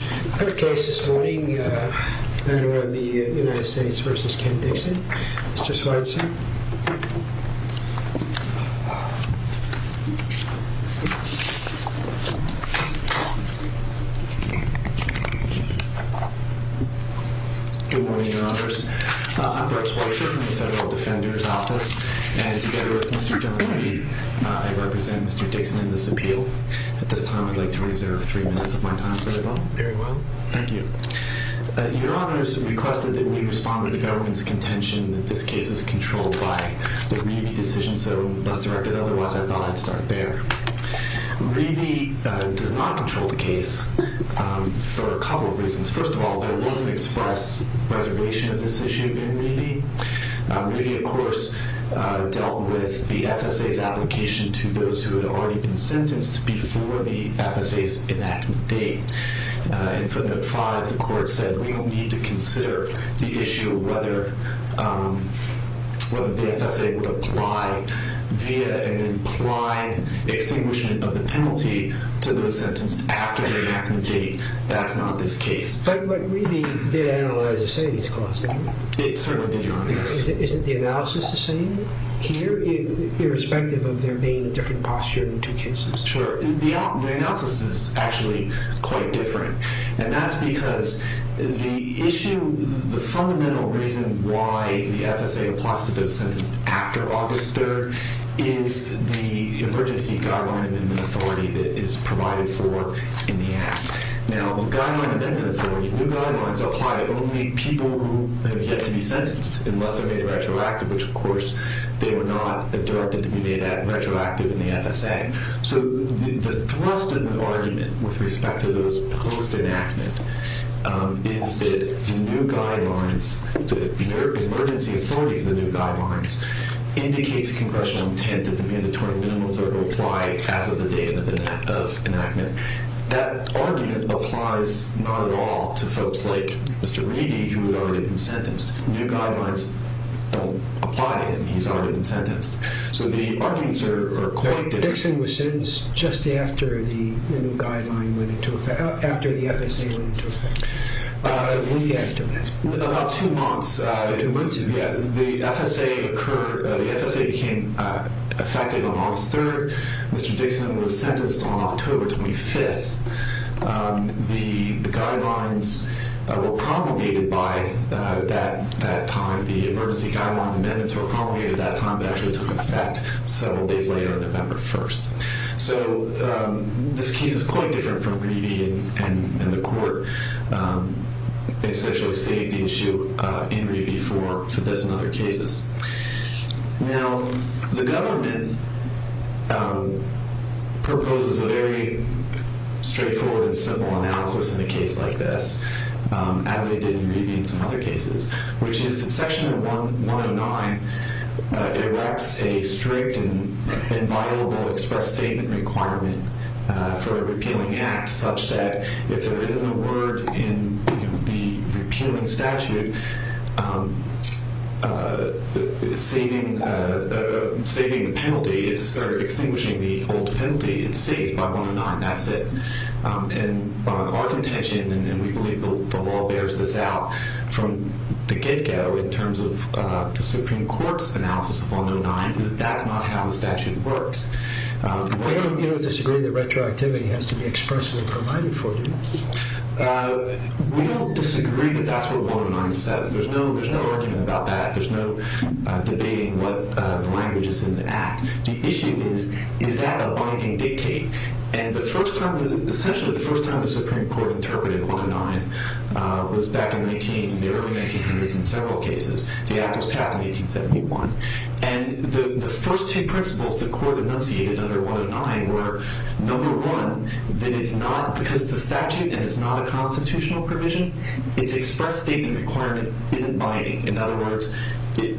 Third case this morning, Federal of the United States v. Ken Dixon. Mr. Schweitzer. Good morning, Your Honors. I'm Brooks Schweitzer from the Federal Defender's Office. And together with Mr. John Levy, I represent Mr. Dixon in this appeal. At this time, I'd like to reserve three minutes of my time for the bill. Very well. Thank you. Your Honors requested that we respond to the government's contention that this case is controlled by the Revy decision, so let's direct it otherwise. I thought I'd start there. Revy does not control the case for a couple of reasons. First of all, there was an express reservation of this issue in Revy. Revy, of course, dealt with the FSA's application to those who had already been sentenced before the FSA's enactment date. In footnote 5, the court said, we will need to consider the issue of whether the FSA would apply via an implied extinguishment of the penalty to those sentenced after the enactment date. That's not this case. But Revy did analyze the savings cost, didn't he? It certainly did, Your Honors. Isn't the analysis the same here, irrespective of there being a different posture in two cases? Sure. The analysis is actually quite different. And that's because the issue, the fundamental reason why the FSA applies to those sentenced after August 3rd is the emergency guideline amendment authority that is provided for in the Act. Now, the guideline amendment authority, new guidelines apply to only people who have yet to be sentenced, unless they're made retroactive, which, of course, they were not directed to be made retroactive in the FSA. So the thrust of the argument with respect to those post-enactment is that the new guidelines, the emergency authority for the new guidelines indicates congressional intent that the mandatory minimums are to apply as of the date of enactment. That argument applies not at all to folks like Mr. Revy, who had already been sentenced. New guidelines don't apply to him. He's already been sentenced. So the arguments are quite different. Mr. Dixon was sentenced just after the new guideline went into effect, after the FSA went into effect. When was after that? About two months. About two months ago. Yeah. The FSA occurred, the FSA became effective on August 3rd. Mr. Dixon was sentenced on October 25th. The guidelines were promulgated by that time. The emergency guideline amendments were promulgated that time. It actually took effect several days later on November 1st. So this case is quite different from Revy and the court. They essentially saved the issue in Revy for this and other cases. Now, the government proposes a very straightforward and simple analysis in a case like this, as they did in Revy and some other cases, which is that Section 109 directs a strict and viable express statement requirement for a repealing act, such that if there isn't a word in the repealing statute, saving the penalty is extinguishing the old penalty. It's saved by 109. That's it. Our contention, and we believe the law bears this out from the get-go in terms of the Supreme Court's analysis of 109, is that that's not how the statute works. We don't disagree that retroactivity has to be expressly provided for. We don't disagree that that's what 109 says. There's no argument about that. There's no debating what language is in the act. The issue is, is that a binding dictate? And essentially the first time the Supreme Court interpreted 109 was back in the early 1900s in several cases. The act was passed in 1871. And the first two principles the Court enunciated under 109 were, number one, that because it's a statute and it's not a constitutional provision, its express statement requirement isn't binding. In other words, the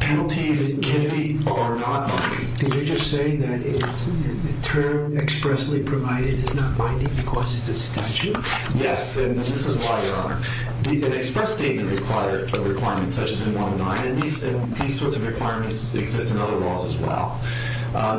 penalties given are not binding. Did you just say that the term expressly provided is not binding because it's a statute? Yes, and this is why, Your Honor. An express statement requirement such as in 109, and these sorts of requirements exist in other laws as well,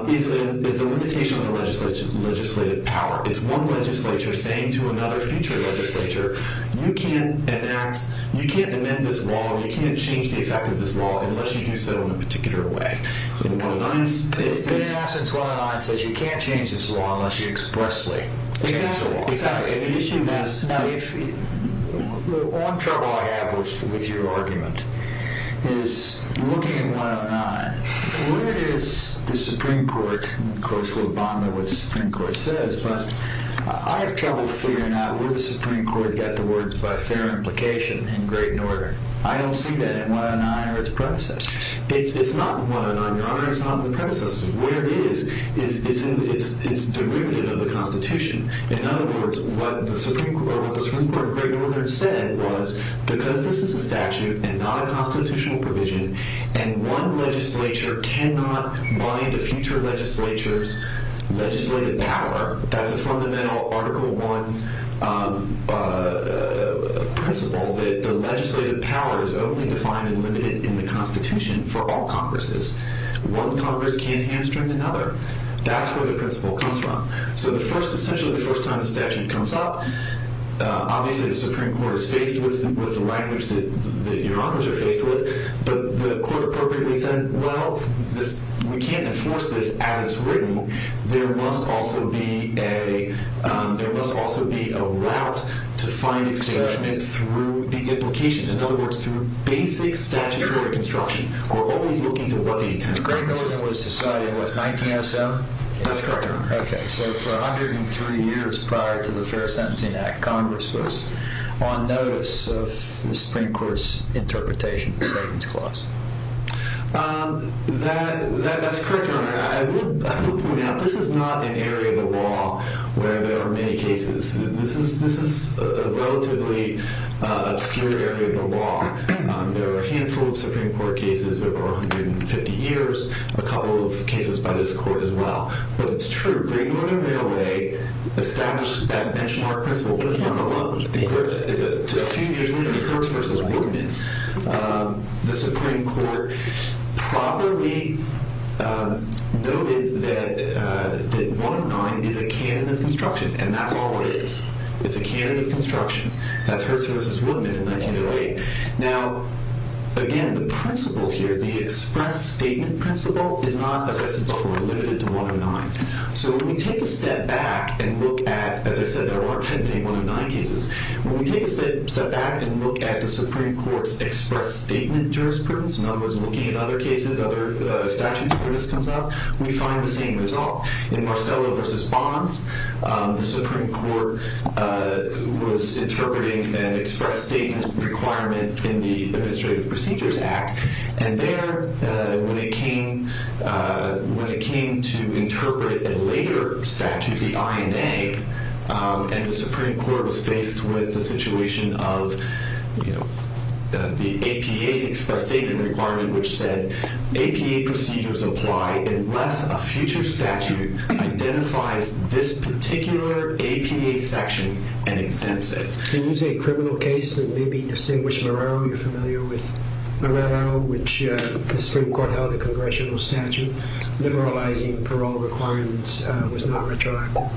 is a limitation on the legislative power. It's one legislature saying to another future legislature, you can't enact, you can't amend this law or you can't change the effect of this law unless you do so in a particular way. In essence, 109 says you can't change this law unless you expressly change the law. Exactly. Now, the one trouble I have with your argument is looking at 109, where is the Supreme Court, of course we'll bond on what the Supreme Court says, but I have trouble figuring out where the Supreme Court got the words by fair implication in grade and order. I don't see that in 109 or its predecessor. It's not in 109, Your Honor. It's not in the predecessor. Where it is, it's derivative of the Constitution. In other words, what the Supreme Court of Great Northern said was because this is a statute and not a constitutional provision and one legislature cannot bind a future legislature's legislative power, that's a fundamental Article I principle that the legislative power is only defined and limited in the Constitution for all Congresses. One Congress can't hamstring another. That's where the principle comes from. So essentially the first time the statute comes up, obviously the Supreme Court is faced with the language that Your Honors are faced with, but the Court appropriately said, well, we can't enforce this as it's written. There must also be a route to find establishment through the implication. In other words, through basic statutory construction. We're always looking to what the Great Northern was deciding. What, 1907? That's correct, Your Honor. Okay. So for 103 years prior to the Fair Sentencing Act, Congress was on notice of the Supreme Court's interpretation of the Sentence Clause. That's correct, Your Honor. I will point out this is not an area of the law where there are many cases. This is a relatively obscure area of the law. There are a handful of Supreme Court cases over 150 years, a couple of cases by this Court as well. But it's true. Great Northern Railway established that benchmark principle. But it's not alone. A few years later, Kirks v. Woodman, the Supreme Court properly noted that 109 is a canon of construction. And that's all it is. It's a canon of construction. That's Kirks v. Woodman in 1908. Now, again, the principle here, the express statement principle, is not, as I said before, limited to 109. So when we take a step back and look at, as I said, there are 109 cases. When we take a step back and look at the Supreme Court's express statement jurisprudence, in other words, looking at other cases, other statutes where this comes up, we find the same result. In Marcello v. Bonds, the Supreme Court was interpreting an express statement requirement in the Administrative Procedures Act. And there, when it came to interpret a later statute, the INA, and the Supreme Court was faced with the situation of the APA's express statement requirement, which said, APA procedures apply unless a future statute identifies this particular APA section and exempts it. Can you say a criminal case that maybe distinguished Marrero? You're familiar with Marrero, which the Supreme Court held a congressional statute liberalizing parole requirements was not retroactive.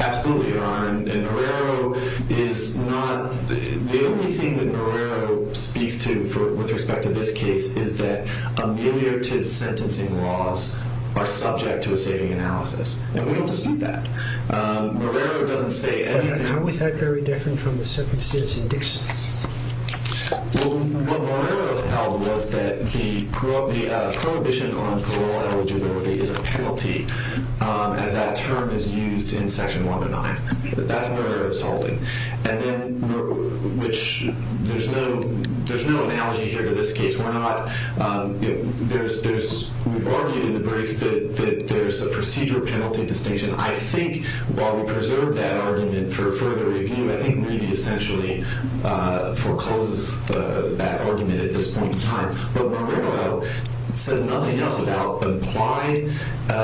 Absolutely. And Marrero is not... The only thing that Marrero speaks to with respect to this case is that ameliorative sentencing laws are subject to a saving analysis. And we don't dispute that. Marrero doesn't say anything... But how is that very different from the circumstances in Dixon? Well, what Marrero held was that the prohibition on parole eligibility is a penalty, as that term is used in Section 109. That's Marrero's holding. And then, which... There's no analogy here to this case. We're not... There's... We've argued in the briefs that there's a procedure penalty distinction. I think while we preserve that argument for further review, I think maybe essentially forecloses that argument at this point in time. But Marrero says nothing else about implied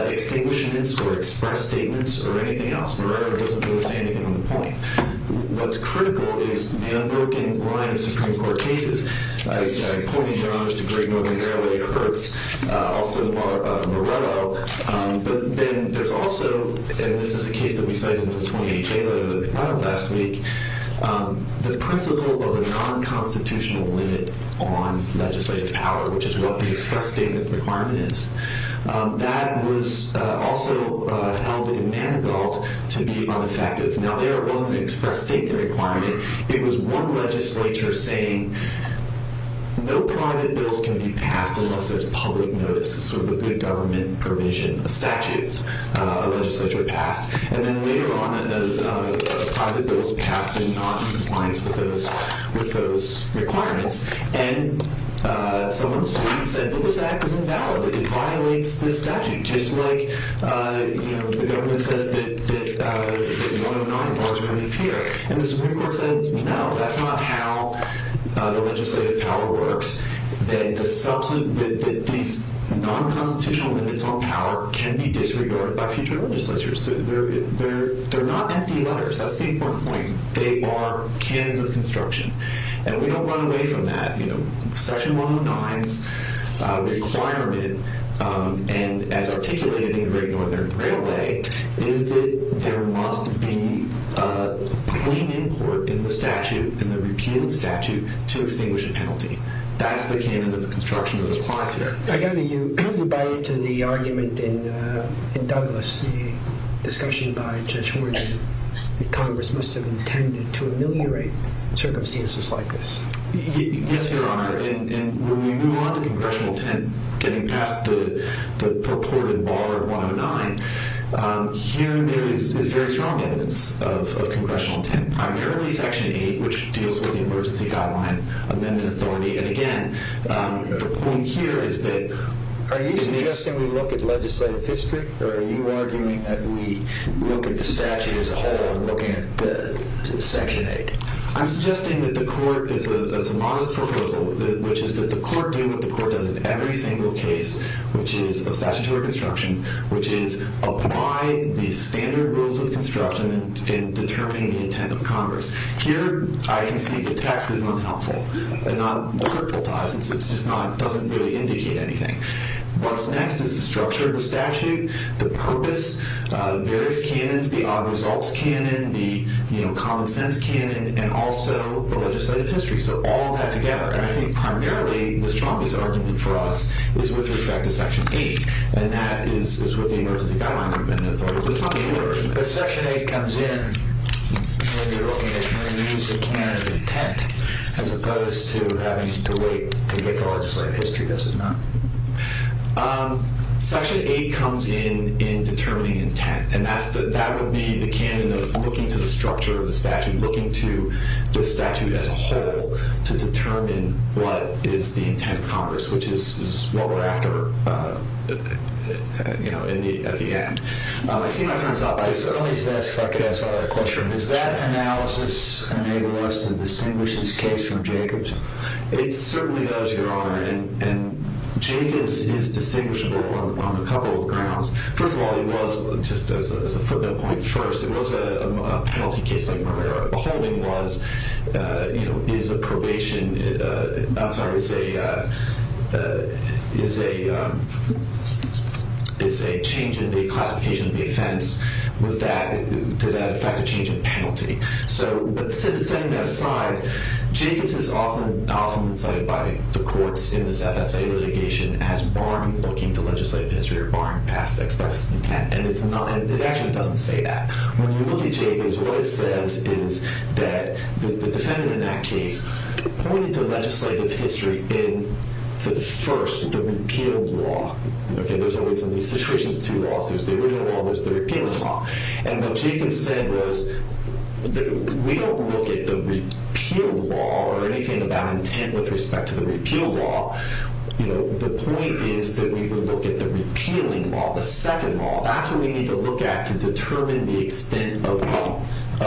extinguishments or express statements or anything else. Marrero doesn't really say anything on the point. What's critical is the unbroken line of Supreme Court cases, pointing their arms to Greg Norton's early hurts, also in Marrero. But then there's also... And this is a case that we cited in the 20HA letter that we filed last week. The principle of a non-constitutional limit on legislative power, which is what the express statement requirement is, that was also held in Manigault to be unaffective. Now, there wasn't an express statement requirement. It was one legislature saying no private bills can be passed unless there's public notice, sort of a good government provision, a statute, a legislature passed. And then later on, private bills passed and not in compliance with those requirements. And some of the Supreme said, well, this act is invalid. It violates this statute, just like the government says that 109 laws are in effect here. And the Supreme Court said, no, that's not how the legislative power works, that these non-constitutional limits on power can be disregarded by future legislatures. They're not empty letters. That's the important point. They are cannons of construction. And we don't run away from that. Section 109's requirement, and as articulated in the Great Northern Railway, is that there must be a clean import in the statute, in the repealing statute, to extinguish a penalty. That's the cannon of construction that applies here. I gather you buy into the argument in Douglas, the discussion by Judge Morgan that Congress must have intended to ameliorate circumstances like this. Yes, Your Honor. And when we move on to Congressional 10, getting past the purported bar of 109, here is very strong evidence of Congressional 10, primarily Section 8, which deals with the Emergency Guideline Amendment Authority. And again, the point here is that... Are you suggesting we look at legislative history, or are you arguing that we look at the statute as a whole and look at Section 8? I'm suggesting that the Court, it's a modest proposal, which is that the Court do what the Court does in every single case of statutory construction, which is apply the standard rules of construction in determining the intent of Congress. Here, I can see the text is not helpful, and not hurtful to us. It's just not... It doesn't really indicate anything. What's next is the structure of the statute, the purpose, various cannons, the odd results cannon, the common sense cannon, and also the legislative history. So all that together, and I think primarily the strongest argument for us is with respect to Section 8, and that is with the Emergency Guideline Amendment Authority. But Section 8 comes in, and you're looking at using the cannon of intent as opposed to having to wait to get to legislative history, does it not? Section 8 comes in in determining intent, and that would be the cannon of looking to the structure of the statute, looking to the statute as a whole to determine what is the intent of Congress, which is what we're after, you know, at the end. I see my time's up. If I could ask one other question. Does that analysis enable us to distinguish this case from Jacobs? It certainly does, Your Honor, and Jacobs is distinguishable on a couple of grounds. First of all, it was, just as a footnote point, first, it was a penalty case like Marrera. The holding was, you know, is a probation... I'm sorry, is a change in the classification of the offense. Did that affect a change in penalty? But setting that aside, Jacobs is often cited by the courts in this FSA litigation as barring looking to legislative history or barring past express intent, and it actually doesn't say that. When you look at Jacobs, what it says is that the defendant in that case pointed to legislative history in the first, the repeal law. Okay, there's always in these situations two laws. There's the original law and there's the repealing law, and what Jacobs said was that we don't look at the repeal law or anything about intent with respect to the repeal law. You know, the point is that we would look at the repealing law, the second law. That's what we need to look at to determine the extent of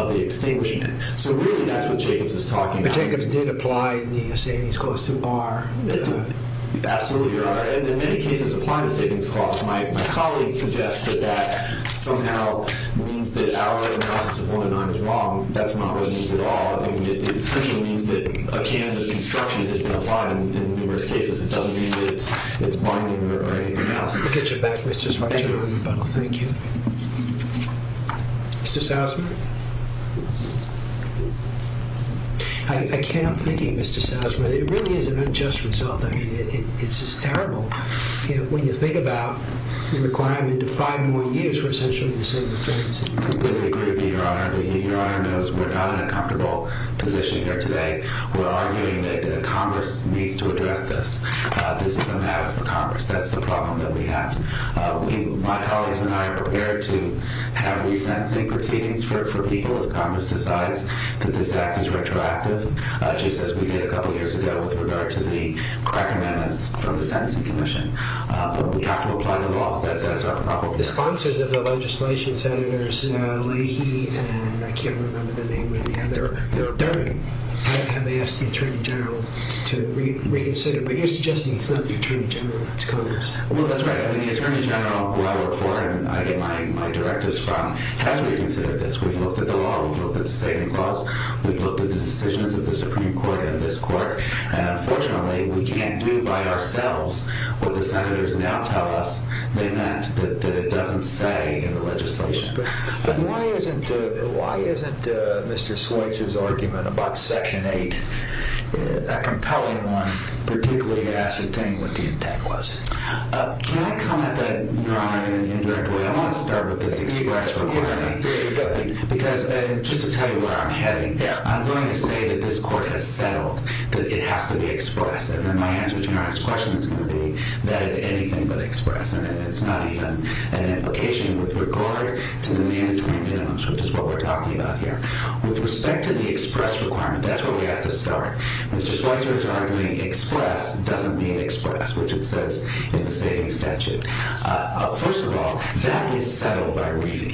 the extinguishment. So really, that's what Jacobs is talking about. Jacobs did apply the Savings Clause to Barr. Absolutely. And in many cases, apply the Savings Clause. My colleague suggests that that somehow means that our recognizance of 109 is wrong. That's not what it means at all. It essentially means that a can of construction has been applied in numerous cases. It doesn't mean that it's binding or anything else. We'll get you back, Mr. Switzer. Thank you. Mr. Salzman? I can't help thinking, Mr. Salzman, it really is an unjust result. I mean, it's just terrible. You know, when you think about the requirement to five more years for essentially the same offense. I completely agree with you, Your Honor. Your Honor knows we're not in a comfortable position here today. We're arguing that Congress needs to address this. This is a matter for Congress. That's the problem that we have. My colleagues and I are prepared to have resents and proceedings for people if Congress decides that this act is retroactive, just as we did a couple years ago with regard to the crack amendments from the Sentencing Commission. But we have to apply the law. That's our problem. The sponsors of the legislation, Senators Leahy and I can't remember the name, and they're daring, have asked the Attorney General to reconsider. But you're suggesting it's not the Attorney General. It's Congress. Well, that's right. The Attorney General who I work for and I get my directives from has reconsidered this. We've looked at the law. We've looked at the saving clause. We've looked at the decisions of the Supreme Court and this court, and unfortunately we can't do by ourselves what the Senators now tell us they meant that it doesn't say in the legislation. But why isn't Mr. Schweitzer's argument about Section 8 a compelling one, particularly to ascertain what the intent was? Can I comment, Your Honor, in an indirect way? I want to start with this express requirement. Because, just to tell you where I'm heading, I'm going to say that this court has settled that it has to be express. And then my answer to Your Honor's question is going to be, that is anything but express. And it's not even an implication with regard to the mandatory minimums, which is what we're talking about here. that's where we have to start. Mr. Schweitzer's argument, express, doesn't mean express, which it says in the Savings Statute. First of all, that is settled by Revey.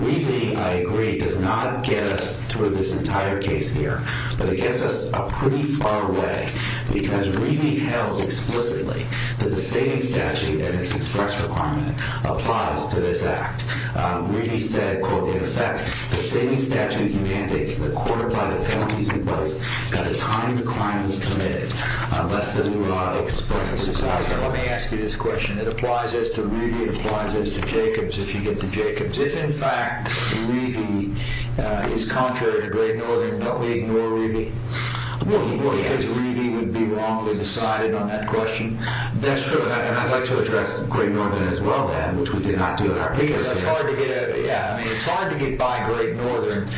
Revey, I agree, does not get us through this entire case here, but it gets us a pretty far way because Revey held explicitly that the Savings Statute and its express requirement applies to this Act. Revey said, quote, in effect, the Savings Statute mandates that the court apply the penalties at a time the crime is committed unless the law expresses it. Mr. Schweitzer, let me ask you this question. It applies as to Revey, it applies as to Jacobs, if you get to Jacobs. If, in fact, Revey is contrary to Great Northern, don't we ignore Revey? Because Revey would be wrongly decided on that question. That's true, and I'd like to address Great Northern as well, which we did not do. Because it's hard to get by Great Northern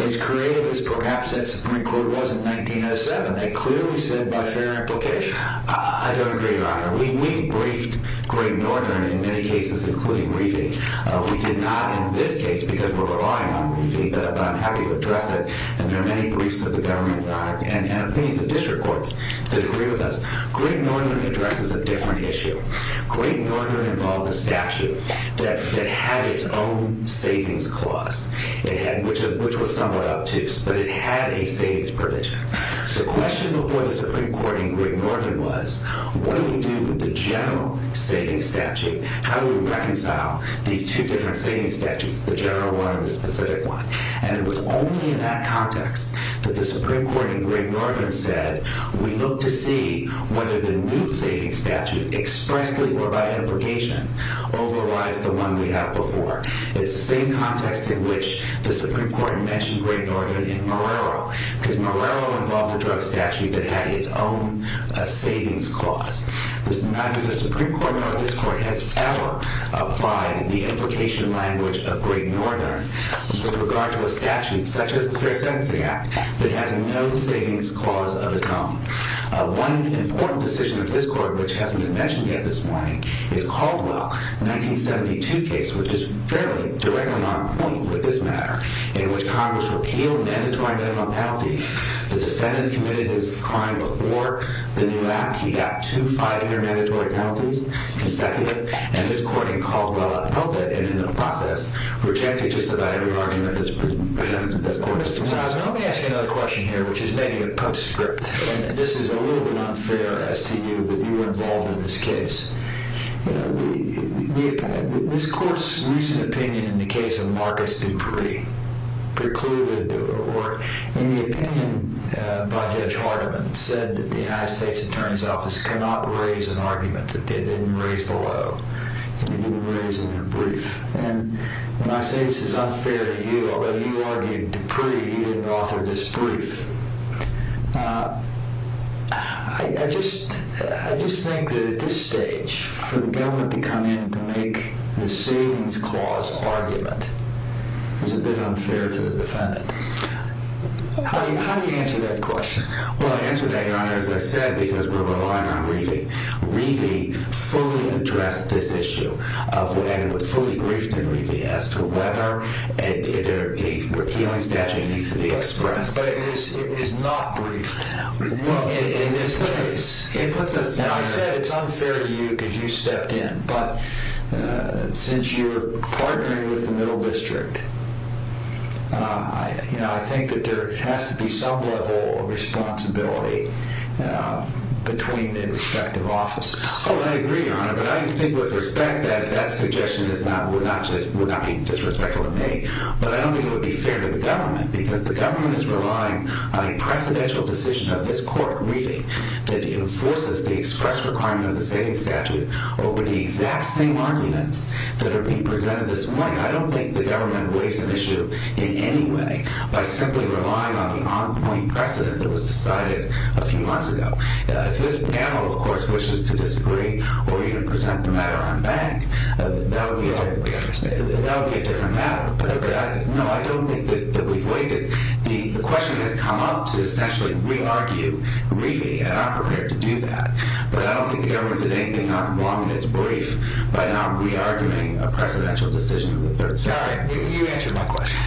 as creative as perhaps that Supreme Court was in 1907. They clearly said, by fair implication, I don't agree, Your Honor. We briefed Great Northern in many cases, including Revey. We did not in this case because we're relying on Revey, but I'm happy to address it. And there are many briefs of the government and opinions of district courts that agree with us. Great Northern addresses a different issue. Great Northern involved a statute that had its own savings clause, which was somewhat obtuse, but it had a savings provision. The question before the Supreme Court in Great Northern was, what do we do with the general savings statute? How do we reconcile these two different savings statutes, the general one and the specific one? And it was only in that context that the Supreme Court in Great Northern said, we look to see whether the new savings statute expressly or by implication overrides the one we have before. It's the same context in which the Supreme Court mentioned Great Northern in Marrero, because Marrero involved a drug statute that had its own savings clause. Neither the Supreme Court nor this court has ever applied the implication language of Great Northern with regard to a statute such as the Fair Sentencing Act that has no savings clause of its own. One important decision of this court, which hasn't been mentioned yet this morning, is Caldwell. 1972 case, which is fairly directly on point with this matter, in which Congress repealed mandatory minimum penalties. The defendant committed his crime before the new act. He got two, five intermandatory penalties consecutively. And this court in Caldwell upheld it and in the process rejected just about every argument that this court has proposed. Now let me ask you another question here, which is maybe a postscript. And this is a little bit unfair as to you, that you were involved in this case. You know, this court's recent opinion in the case of Marcus Dupree precluded or in the opinion by Judge Hardiman said that the United States Attorney's Office cannot raise an argument that they didn't raise below. They didn't raise in their brief. And when I say this is unfair to you, although you argued Dupree, you didn't author this brief. I just think that at this stage for the government to come in to make the savings clause argument is a bit unfair to the defendant. How do you answer that question? Well, I answer that, Your Honor, as I said, because we're relying on Reidy. Reidy fully addressed this issue and was fully briefed in Reidy as to whether a repealing statute needs to be expressed. But it is not briefed in this case. Now, I said it's unfair to you because you stepped in, but since you're partnering with the Middle District, I think that there has to be some level of responsibility between the respective offices. Oh, I agree, Your Honor, but I think with respect that that suggestion would not be disrespectful for me, but I don't think it would be fair to the government because the government is relying on a precedential decision of this court, Reidy, that enforces the express requirement of the savings statute over the exact same arguments that are being presented this morning. I don't think the government weighs an issue in any way by simply relying on the on-point precedent that was decided a few months ago. If this panel, of course, wishes to disagree or even present the matter on bank, that would be a different matter, but no, I don't think that we've weighed it. The question has come up to essentially re-argue Reidy, and I'm prepared to do that, but I don't think the government did anything wrong in its brief by not re-arguing a precedential decision of the Third Circuit. You answered my question.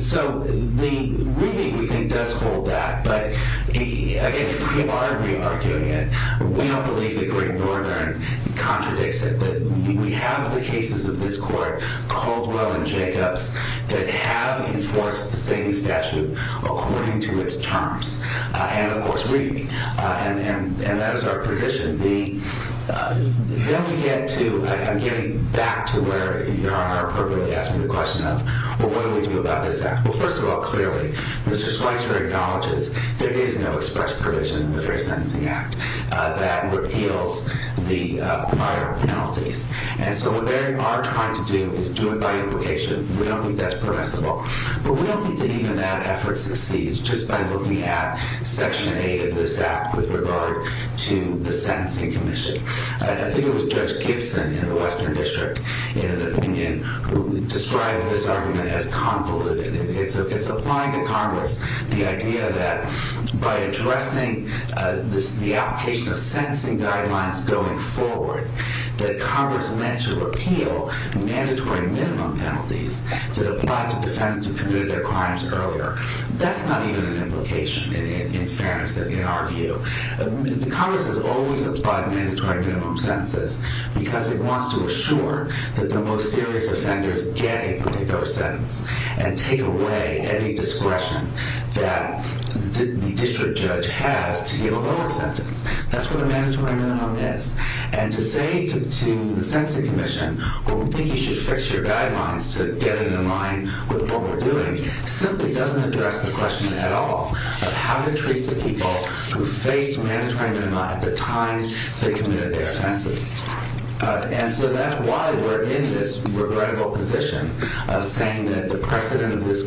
So, Reidy, we think, does hold that, but if we are re-arguing it, we don't believe the Great Border Contradicts it. We have the cases of this Court, Caldwell and Jacobs, that have enforced the savings statute according to its terms. And, of course, Reidy, and that is our position. Then we get to, I'm getting back to where Your Honor appropriately asked me the question of, well, what do we do about this act? Well, first of all, clearly, Mr. Schweitzer acknowledges there is no express provision in the Fair Sentencing Act that repeals the prior penalties. And so what they are trying to do is do it by implication. We don't think that's permissible, but we don't think that even that effort succeeds just by looking at Section 8 of this act with regard to the Sentencing Commission. I think it was Judge Gibson in the Western District in an opinion who described this argument as convoluted. It's applying to Congress the idea that by addressing the application of sentencing guidelines going forward, that Congress meant to repeal mandatory minimum penalties that apply to defendants who committed their crimes earlier. That's not even an implication in fairness, in our view. Congress has always applied mandatory minimum sentences because it wants to assure that the most serious offenders get a particular sentence and take away any discretion that the district judge has to give a lower sentence. That's what a mandatory minimum is. And to say to the Sentencing Commission, we think you should fix your guidelines to get it in line with what we're doing, simply doesn't address the question at all of how to treat the people who faced mandatory minimum at the time they committed their offenses. And so that's why we're in this regrettable position of saying that the precedent of this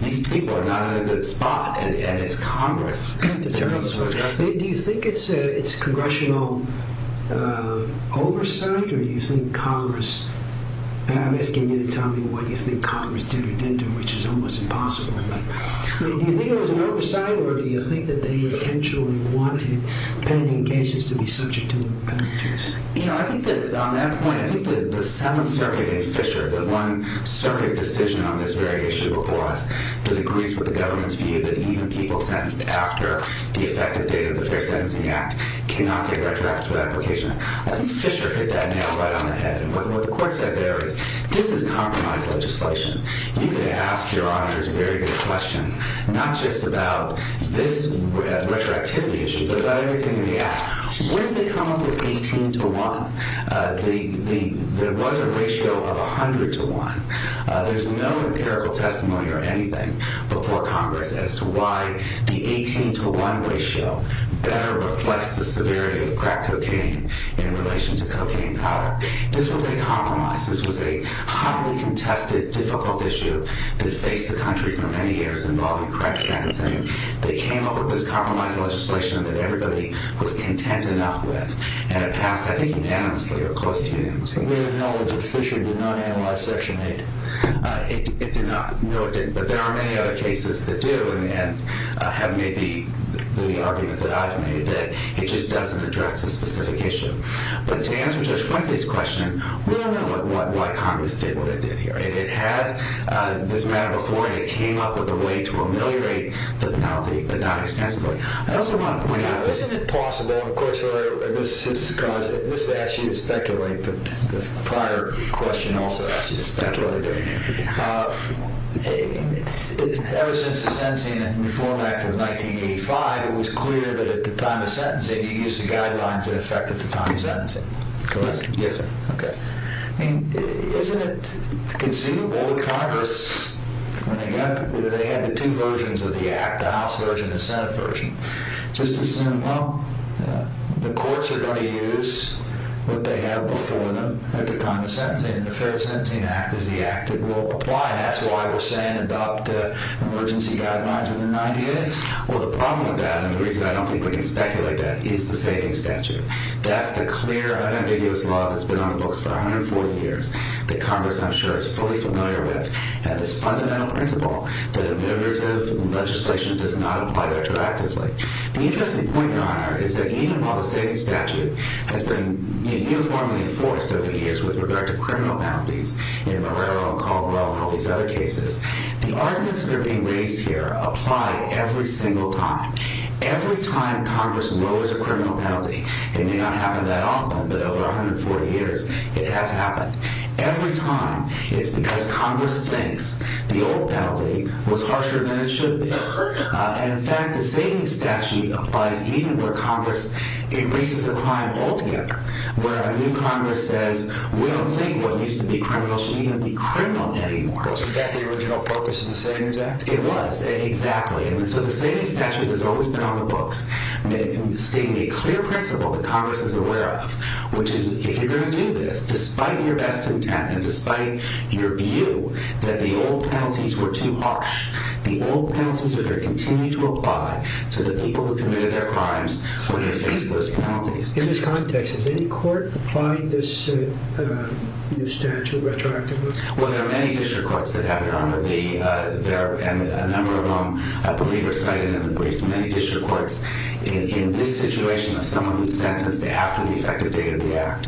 these people are not in a good spot and it's Congress to address it. Do you think it's Congressional oversight or do you think Congress I'm asking you to tell me what you think Congress did or didn't do which is almost impossible. Do you think it was an oversight or do you think that they intentionally wanted pending cases to be subject to penalties? On that point, I think that the Seventh Circuit in Fisher, the one Seventh Circuit decision on this very issue before us, that agrees with the government's view that even people sentenced after the effective date of the Fair Sentencing Act cannot get retroactive application. I think Fisher hit that nail right on the head. And what the court said there is this is compromised legislation. You can ask your honors a very good question not just about this retroactivity issue but about everything in the act. When they come up with 18 to 1 there was a ratio of 100 to 1. There's no empirical testimony or anything before Congress as to why the 18 to 1 ratio better reflects the severity of crack cocaine in relation to cocaine powder. This was a compromise. This was a highly contested, difficult issue that faced the country for many years involving crack sentencing. They came up with this compromised legislation that everybody was content enough with and it passed, I think, unanimously. We acknowledge that Fisher did not analyze Section 8. It did not. No, it didn't. But there are many other cases that do and have made the argument that I've made that it just doesn't address the specific issue. But to answer Judge Franklin's question we don't know why Congress did what it did here. It had this matter before and it came up with a way to ameliorate the penalty but not extensively. Isn't it possible, of course, this is because this asks you to speculate but the prior question also asks you to speculate. Ever since the Sentencing and Reform Act of 1985 it was clear that at the time of sentencing you used the guidelines that affected the time of sentencing. Correct? Yes, sir. Isn't it conceivable that Congress when they had the two versions of the Act the House version and the Senate version just assumed, well the courts are going to use what they have before them at the time of sentencing and the Fair Sentencing Act is the Act that will apply. That's why we're saying adopt emergency guidelines within 90 days? Well, the problem with that, and the reason I don't think we can speculate that, is the saving statute. That's the clear, unambiguous law that's been on the books for 140 years that Congress, I'm sure, is fully familiar with. And this fundamental principle that ameliorative legislation does not apply retroactively. The interesting point, Your Honor, is that even while the saving statute has been uniformly enforced over the years with regard to criminal penalties in Marrero and Caldwell and all these other cases, the arguments that are being raised here apply every single time. Every time Congress lowers a criminal penalty it may not happen that often, but over 140 years it has happened. Every time. It's because Congress thinks the old penalty was harsher than it should be. In fact, the saving statute applies even where Congress erases a crime altogether, where a new Congress says, we don't think what used to be criminal should even be criminal anymore. Was that the original focus of the saving statute? It was, exactly. And so the saving statute has always been on the books, stating a clear principle that Congress is aware of, which is, if you're going to do this, despite your best intent, and despite your view, that the old penalties were too harsh. The old penalties are going to continue to apply to the people who committed their crimes when they face those penalties. In this context, has any court applied this new statute retroactively? Well, there are many district courts that have it on, and a number of them I believe are cited in the briefs. Many district courts in this situation if someone is sentenced, they have to be effective day of the act.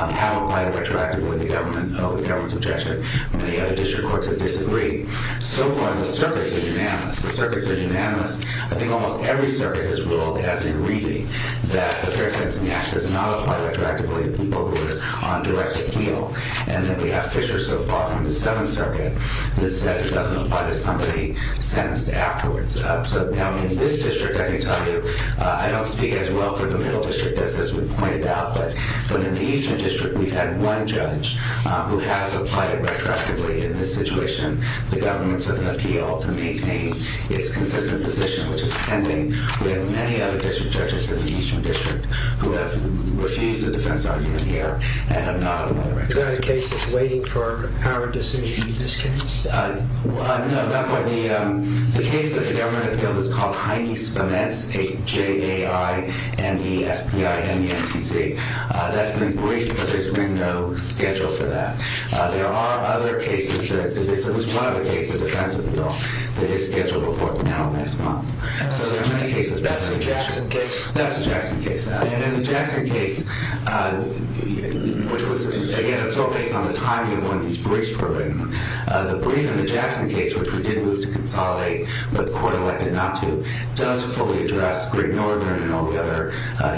How apply retroactively the government's objection? Many other district courts have disagreed. So far, the circuits are unanimous. The circuits are unanimous. I think almost every circuit has ruled, as in reading, that the Fair Sentencing Act does not apply retroactively to people who are on direct appeal. And then we have Fisher, so far, from the 7th Circuit, that says it doesn't apply to somebody sentenced afterwards. So, now, in this district, I can tell you, I don't speak as well for the Middle District as has been pointed out, but in the Eastern District, we've had one judge who has applied it retroactively. In this situation, the government took an appeal to maintain its consistent position, which is pending. We have many other district judges in the Eastern District who have refused the defense argument here and have not applied retroactively. Is there a case that's waiting for our decision in this case? No, not quite. The case that the government appealed is called Heine-Spemetz, J-A-I-N-E-S-P-I-N-E-N-T-Z. That's been briefed, but there's been no schedule for that. There are other cases that this is one of the cases, a defense appeal, that is scheduled for now, next month. So, there are many cases. That's the Jackson case? That's the Jackson case. In the Jackson case, which was, again, it's all based on the timing of when these briefs were written, the brief in the Jackson case, which we did move to consolidate, but the court elected not to, does fully address Greg Nordner and all the other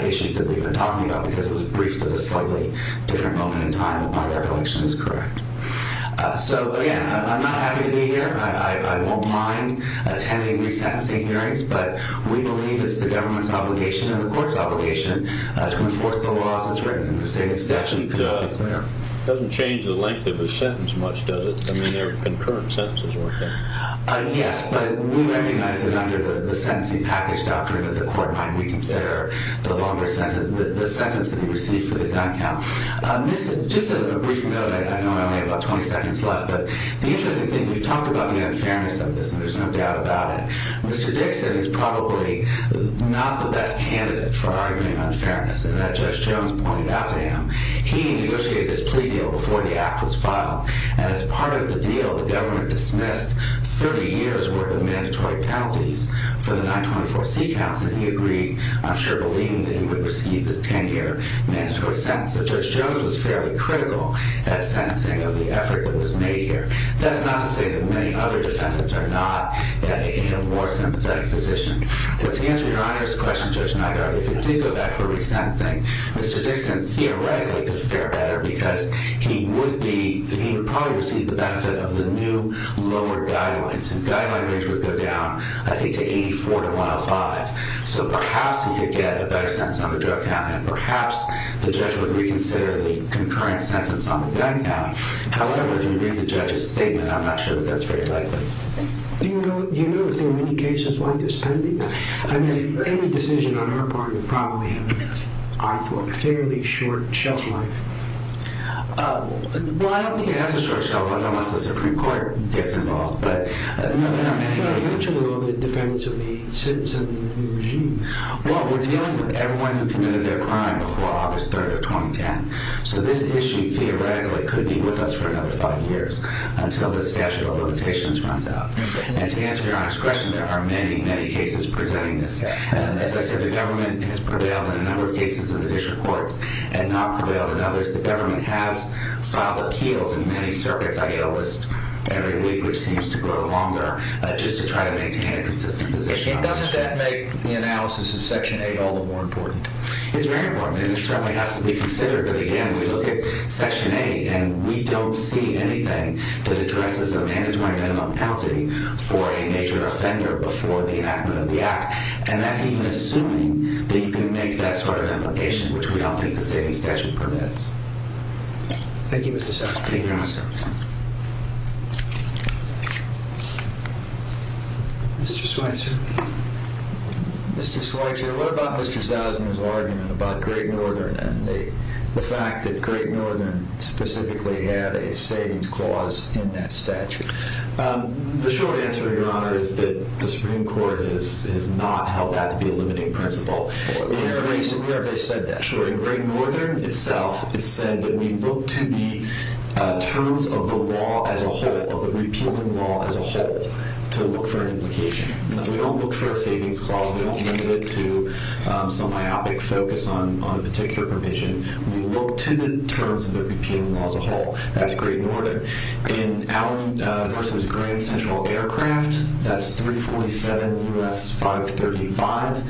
issues that we've been talking about, because it was briefed at a slightly different moment in time if my recollection is correct. So, again, I'm not happy to be here. I won't mind attending resentencing hearings, but we believe it's the government's obligation and the court's obligation to enforce the laws that's written in the same statute. It doesn't change the length of a sentence much, does it? I mean, there are concurrent sentences, right? Yes, but we recognize that under the sentencing package doctrine that the court might reconsider the sentence that he received for the gun count. Just a brief note, I know I only have about 20 seconds left, but the interesting thing, we've talked about the unfairness of this, and there's no doubt about it. Mr. Dixon is probably not the best candidate for arguing unfairness, and that Judge Jones pointed out to him. He negotiated this plea deal before the act was filed, and as part of the deal, the government dismissed 30 years' worth of mandatory penalties for the 924C counts, and he agreed, I'm sure believing that he would receive this 10-year mandatory sentence, so Judge Jones was fairly critical at sentencing of the effort that was made here. That's not to say that many other defendants are not in a more sympathetic position. So to answer Your Honor's question, Judge Nygard, if he did go back for resentencing, Mr. Dixon theoretically could fare better because he would be he would probably receive the benefit of the new lower guidelines. His guidelines would go down, I think, to 84 to 105. So perhaps he could get a better sentence on the drug count, and perhaps the judge would reconsider the concurrent sentence on the gun count. However, if you read the judge's statement, I'm not sure that that's very likely. Do you know if there are many cases like this pending? I mean, any decision on our part would probably have, I thought, a fairly short shelf life. Well, I don't think it has a short shelf life unless the Supreme Court gets involved, but there are many cases. Well, we're dealing with everyone who committed their crime before August 3rd of 2010. So this issue, theoretically, could be with us for another five years until the statute of limitations runs out. And to answer Your Honor's question, there are many, many cases presenting this. As I said, the government has prevailed in a number of cases in the district courts and not prevailed in others. The government has filed appeals in many circuits. I get a list every week, which seems to grow longer, just to try to maintain a consistent position. Doesn't that make the analysis of Section 8 all the more important? It's very important, and it certainly has to be considered. But again, we look at Section 8 and we don't see anything that addresses a mandatory minimum penalty for a major offender before the enactment of the Act. And that's even assuming that you can make that sort of implication, which we don't think the state statute permits. Thank you, Mr. Soutzman. Mr. Schweitzer. Mr. Schweitzer, what about Mr. Soutzman's argument about Great Northern and the fact that Great Northern specifically had a savings clause in that statute? The short answer, Your Honor, is that the Supreme Court has not held that to be a limiting principle. We have already said that. In Great Northern itself, it's said that we look to the terms of the law as a whole, of the repealing law as a whole, to look for an implication. We don't look for a savings clause. We don't limit it to some myopic focus on a particular provision. We look to the terms of the repealing law as a whole. That's Great Northern. In Allen v. Grand Central Aircraft, that's 347 U.S. 535.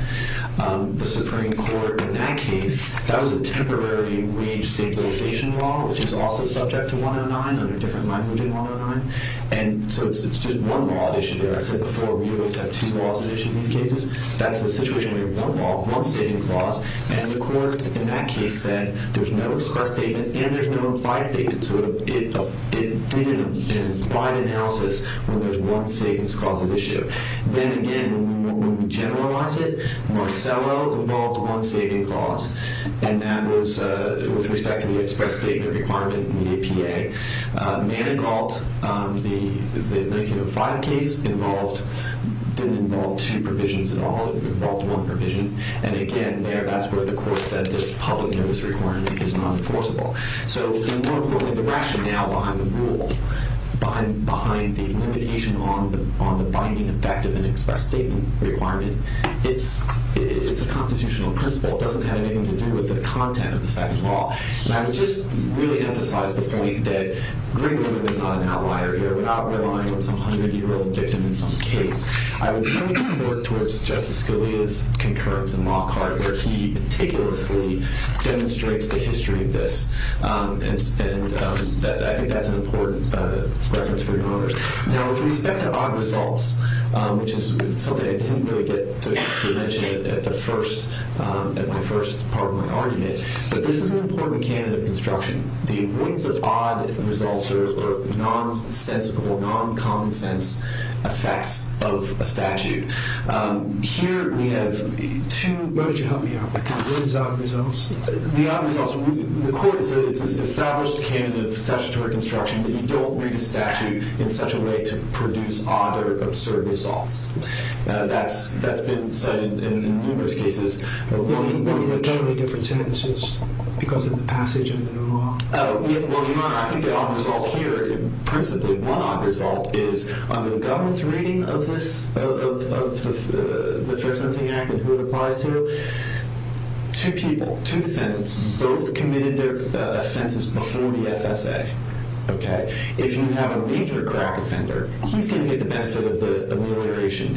The Supreme Court, in that case, that was a temporary re-stimulization law, which is also subject to 109, under a different language than 109. It's just one law issue there. I said before, we always have two laws in these cases. That's the situation where you have one law, one savings clause, and the Court, in that case, said there's no express statement and there's no implied statement. It did an implied analysis where there's one savings clause at issue. Then again, when we generalize it, Marcello involved one savings clause, and that was with respect to the express statement requirement in the APA. Manigault, the 1905 case, involved didn't involve two provisions at all. It involved one provision. Again, there, that's where the Court said this public notice requirement is not enforceable. More importantly, the rationale behind the rule, behind the limitation on the binding effect of an express statement requirement, it's a constitutional principle. It doesn't have anything to do with the content of the second law. I would just really emphasize the point that Greenwood is not an outlier here. Without relying on some hundred-year-old victim in some case, I would really work towards Justice Scalia's concurrence in Lockhart, where he meticulously demonstrates the history of this. I think that's an important reference for you to remember. Now, with respect to odd results, which is something I didn't really get to mention at my first part of my argument, but this is an important candidate of construction. The avoidance of odd results are nonsensical, non-common-sense effects of a statute. Here, we have two Where would you help me out? The odd results, the Court said it's an established candidate of statutory construction that you don't read a lot of absurd results. That's been said in numerous cases. There are definitely different sentences because of the passage of the new law. Well, Your Honor, I think the odd result here and principally one odd result is on the government's reading of the Fair Sentencing Act and who it applies to, two people, two defendants, both committed their offenses before the FSA. If you have a major crack offender, he's going to get the benefit of the amelioration.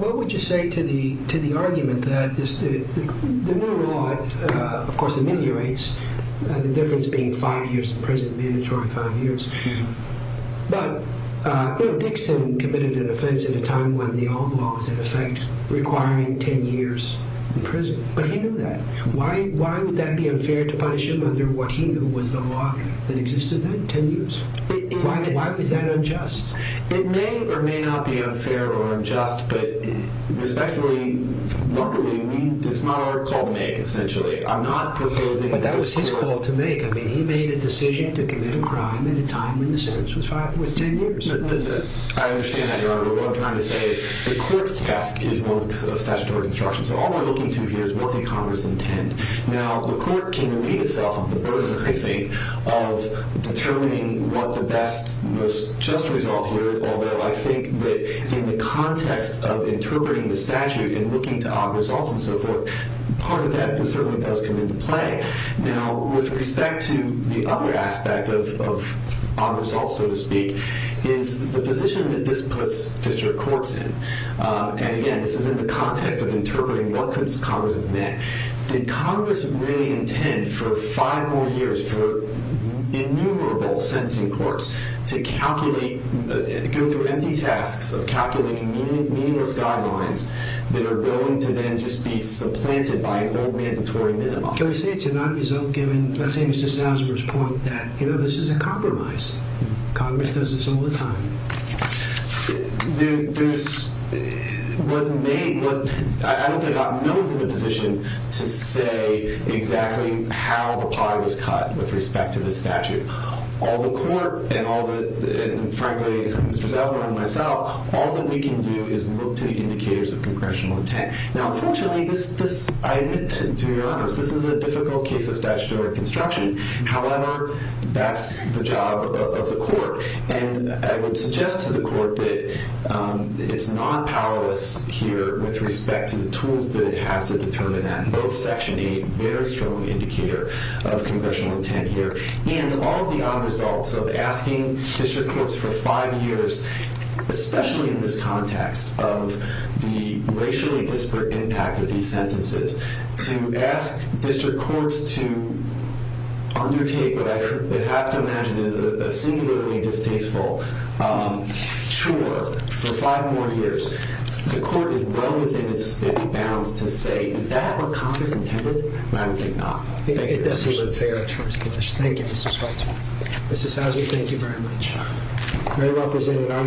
What would you say to the argument that the new law, of course, ameliorates, the difference being five years in prison, mandatory five years. But Dixon committed an offense at a time when the old law was in effect requiring ten years in prison, but he knew that. Why would that be unfair to punish him under what he knew was the law that existed then, ten years? Why is that unjust? It may or may not be unfair or unjust, but respectfully, luckily, it's not our call to make, essentially. But that was his call to make. He made a decision to commit a crime at a time when the sentence was ten years. I understand that, Your Honor, but what I'm trying to say is the court's task is one of statutory construction, so all we're looking to here is what the Congress intend. Now, the court can read itself the burger, I think, of determining what the best, most just result here, although I think that in the context of interpreting the statute and looking to odd results and so forth, part of that certainly does come into play. Now, with respect to the other aspect of odd results, so to speak, is the position that this puts district courts in. And again, this is in the context of interpreting what could Congress have meant. Did Congress really intend for five more years for innumerable sentencing courts to calculate, go through empty tasks of calculating meaningless guidelines that are willing to then just be supplanted by an old mandatory minimum? Can we say it's an odd result, given, let's say Mr. Salzberg's point that, you know, this is a compromise. Congress does this all the time. There's what may, what I don't think I'm in a position to say exactly how the pie was cut with respect to this statute. All the court and all the, frankly, Mr. Salzberg and myself, all that we can do is look to the indicators of congressional intent. Now, unfortunately, this, I admit, to be honest, this is a difficult case of statutory construction. However, that's the job of the court. And I would suggest to the court that it's not powerless here with respect to the tools that it has to determine that. Both Section 8, very strong indicator of congressional intent here. And all of the odd results of asking district courts for five years, especially in this context of the racially disparate impact of these sentences, to ask district courts to undertake what I have to imagine is a singularly distasteful chore for five more years. The court is well within its bounds to say, is that what Congress intended? I don't think not. I think it doesn't look fair. Thank you, Mr. Salzberg. Mr. Salzberg, thank you very much. Very well presented.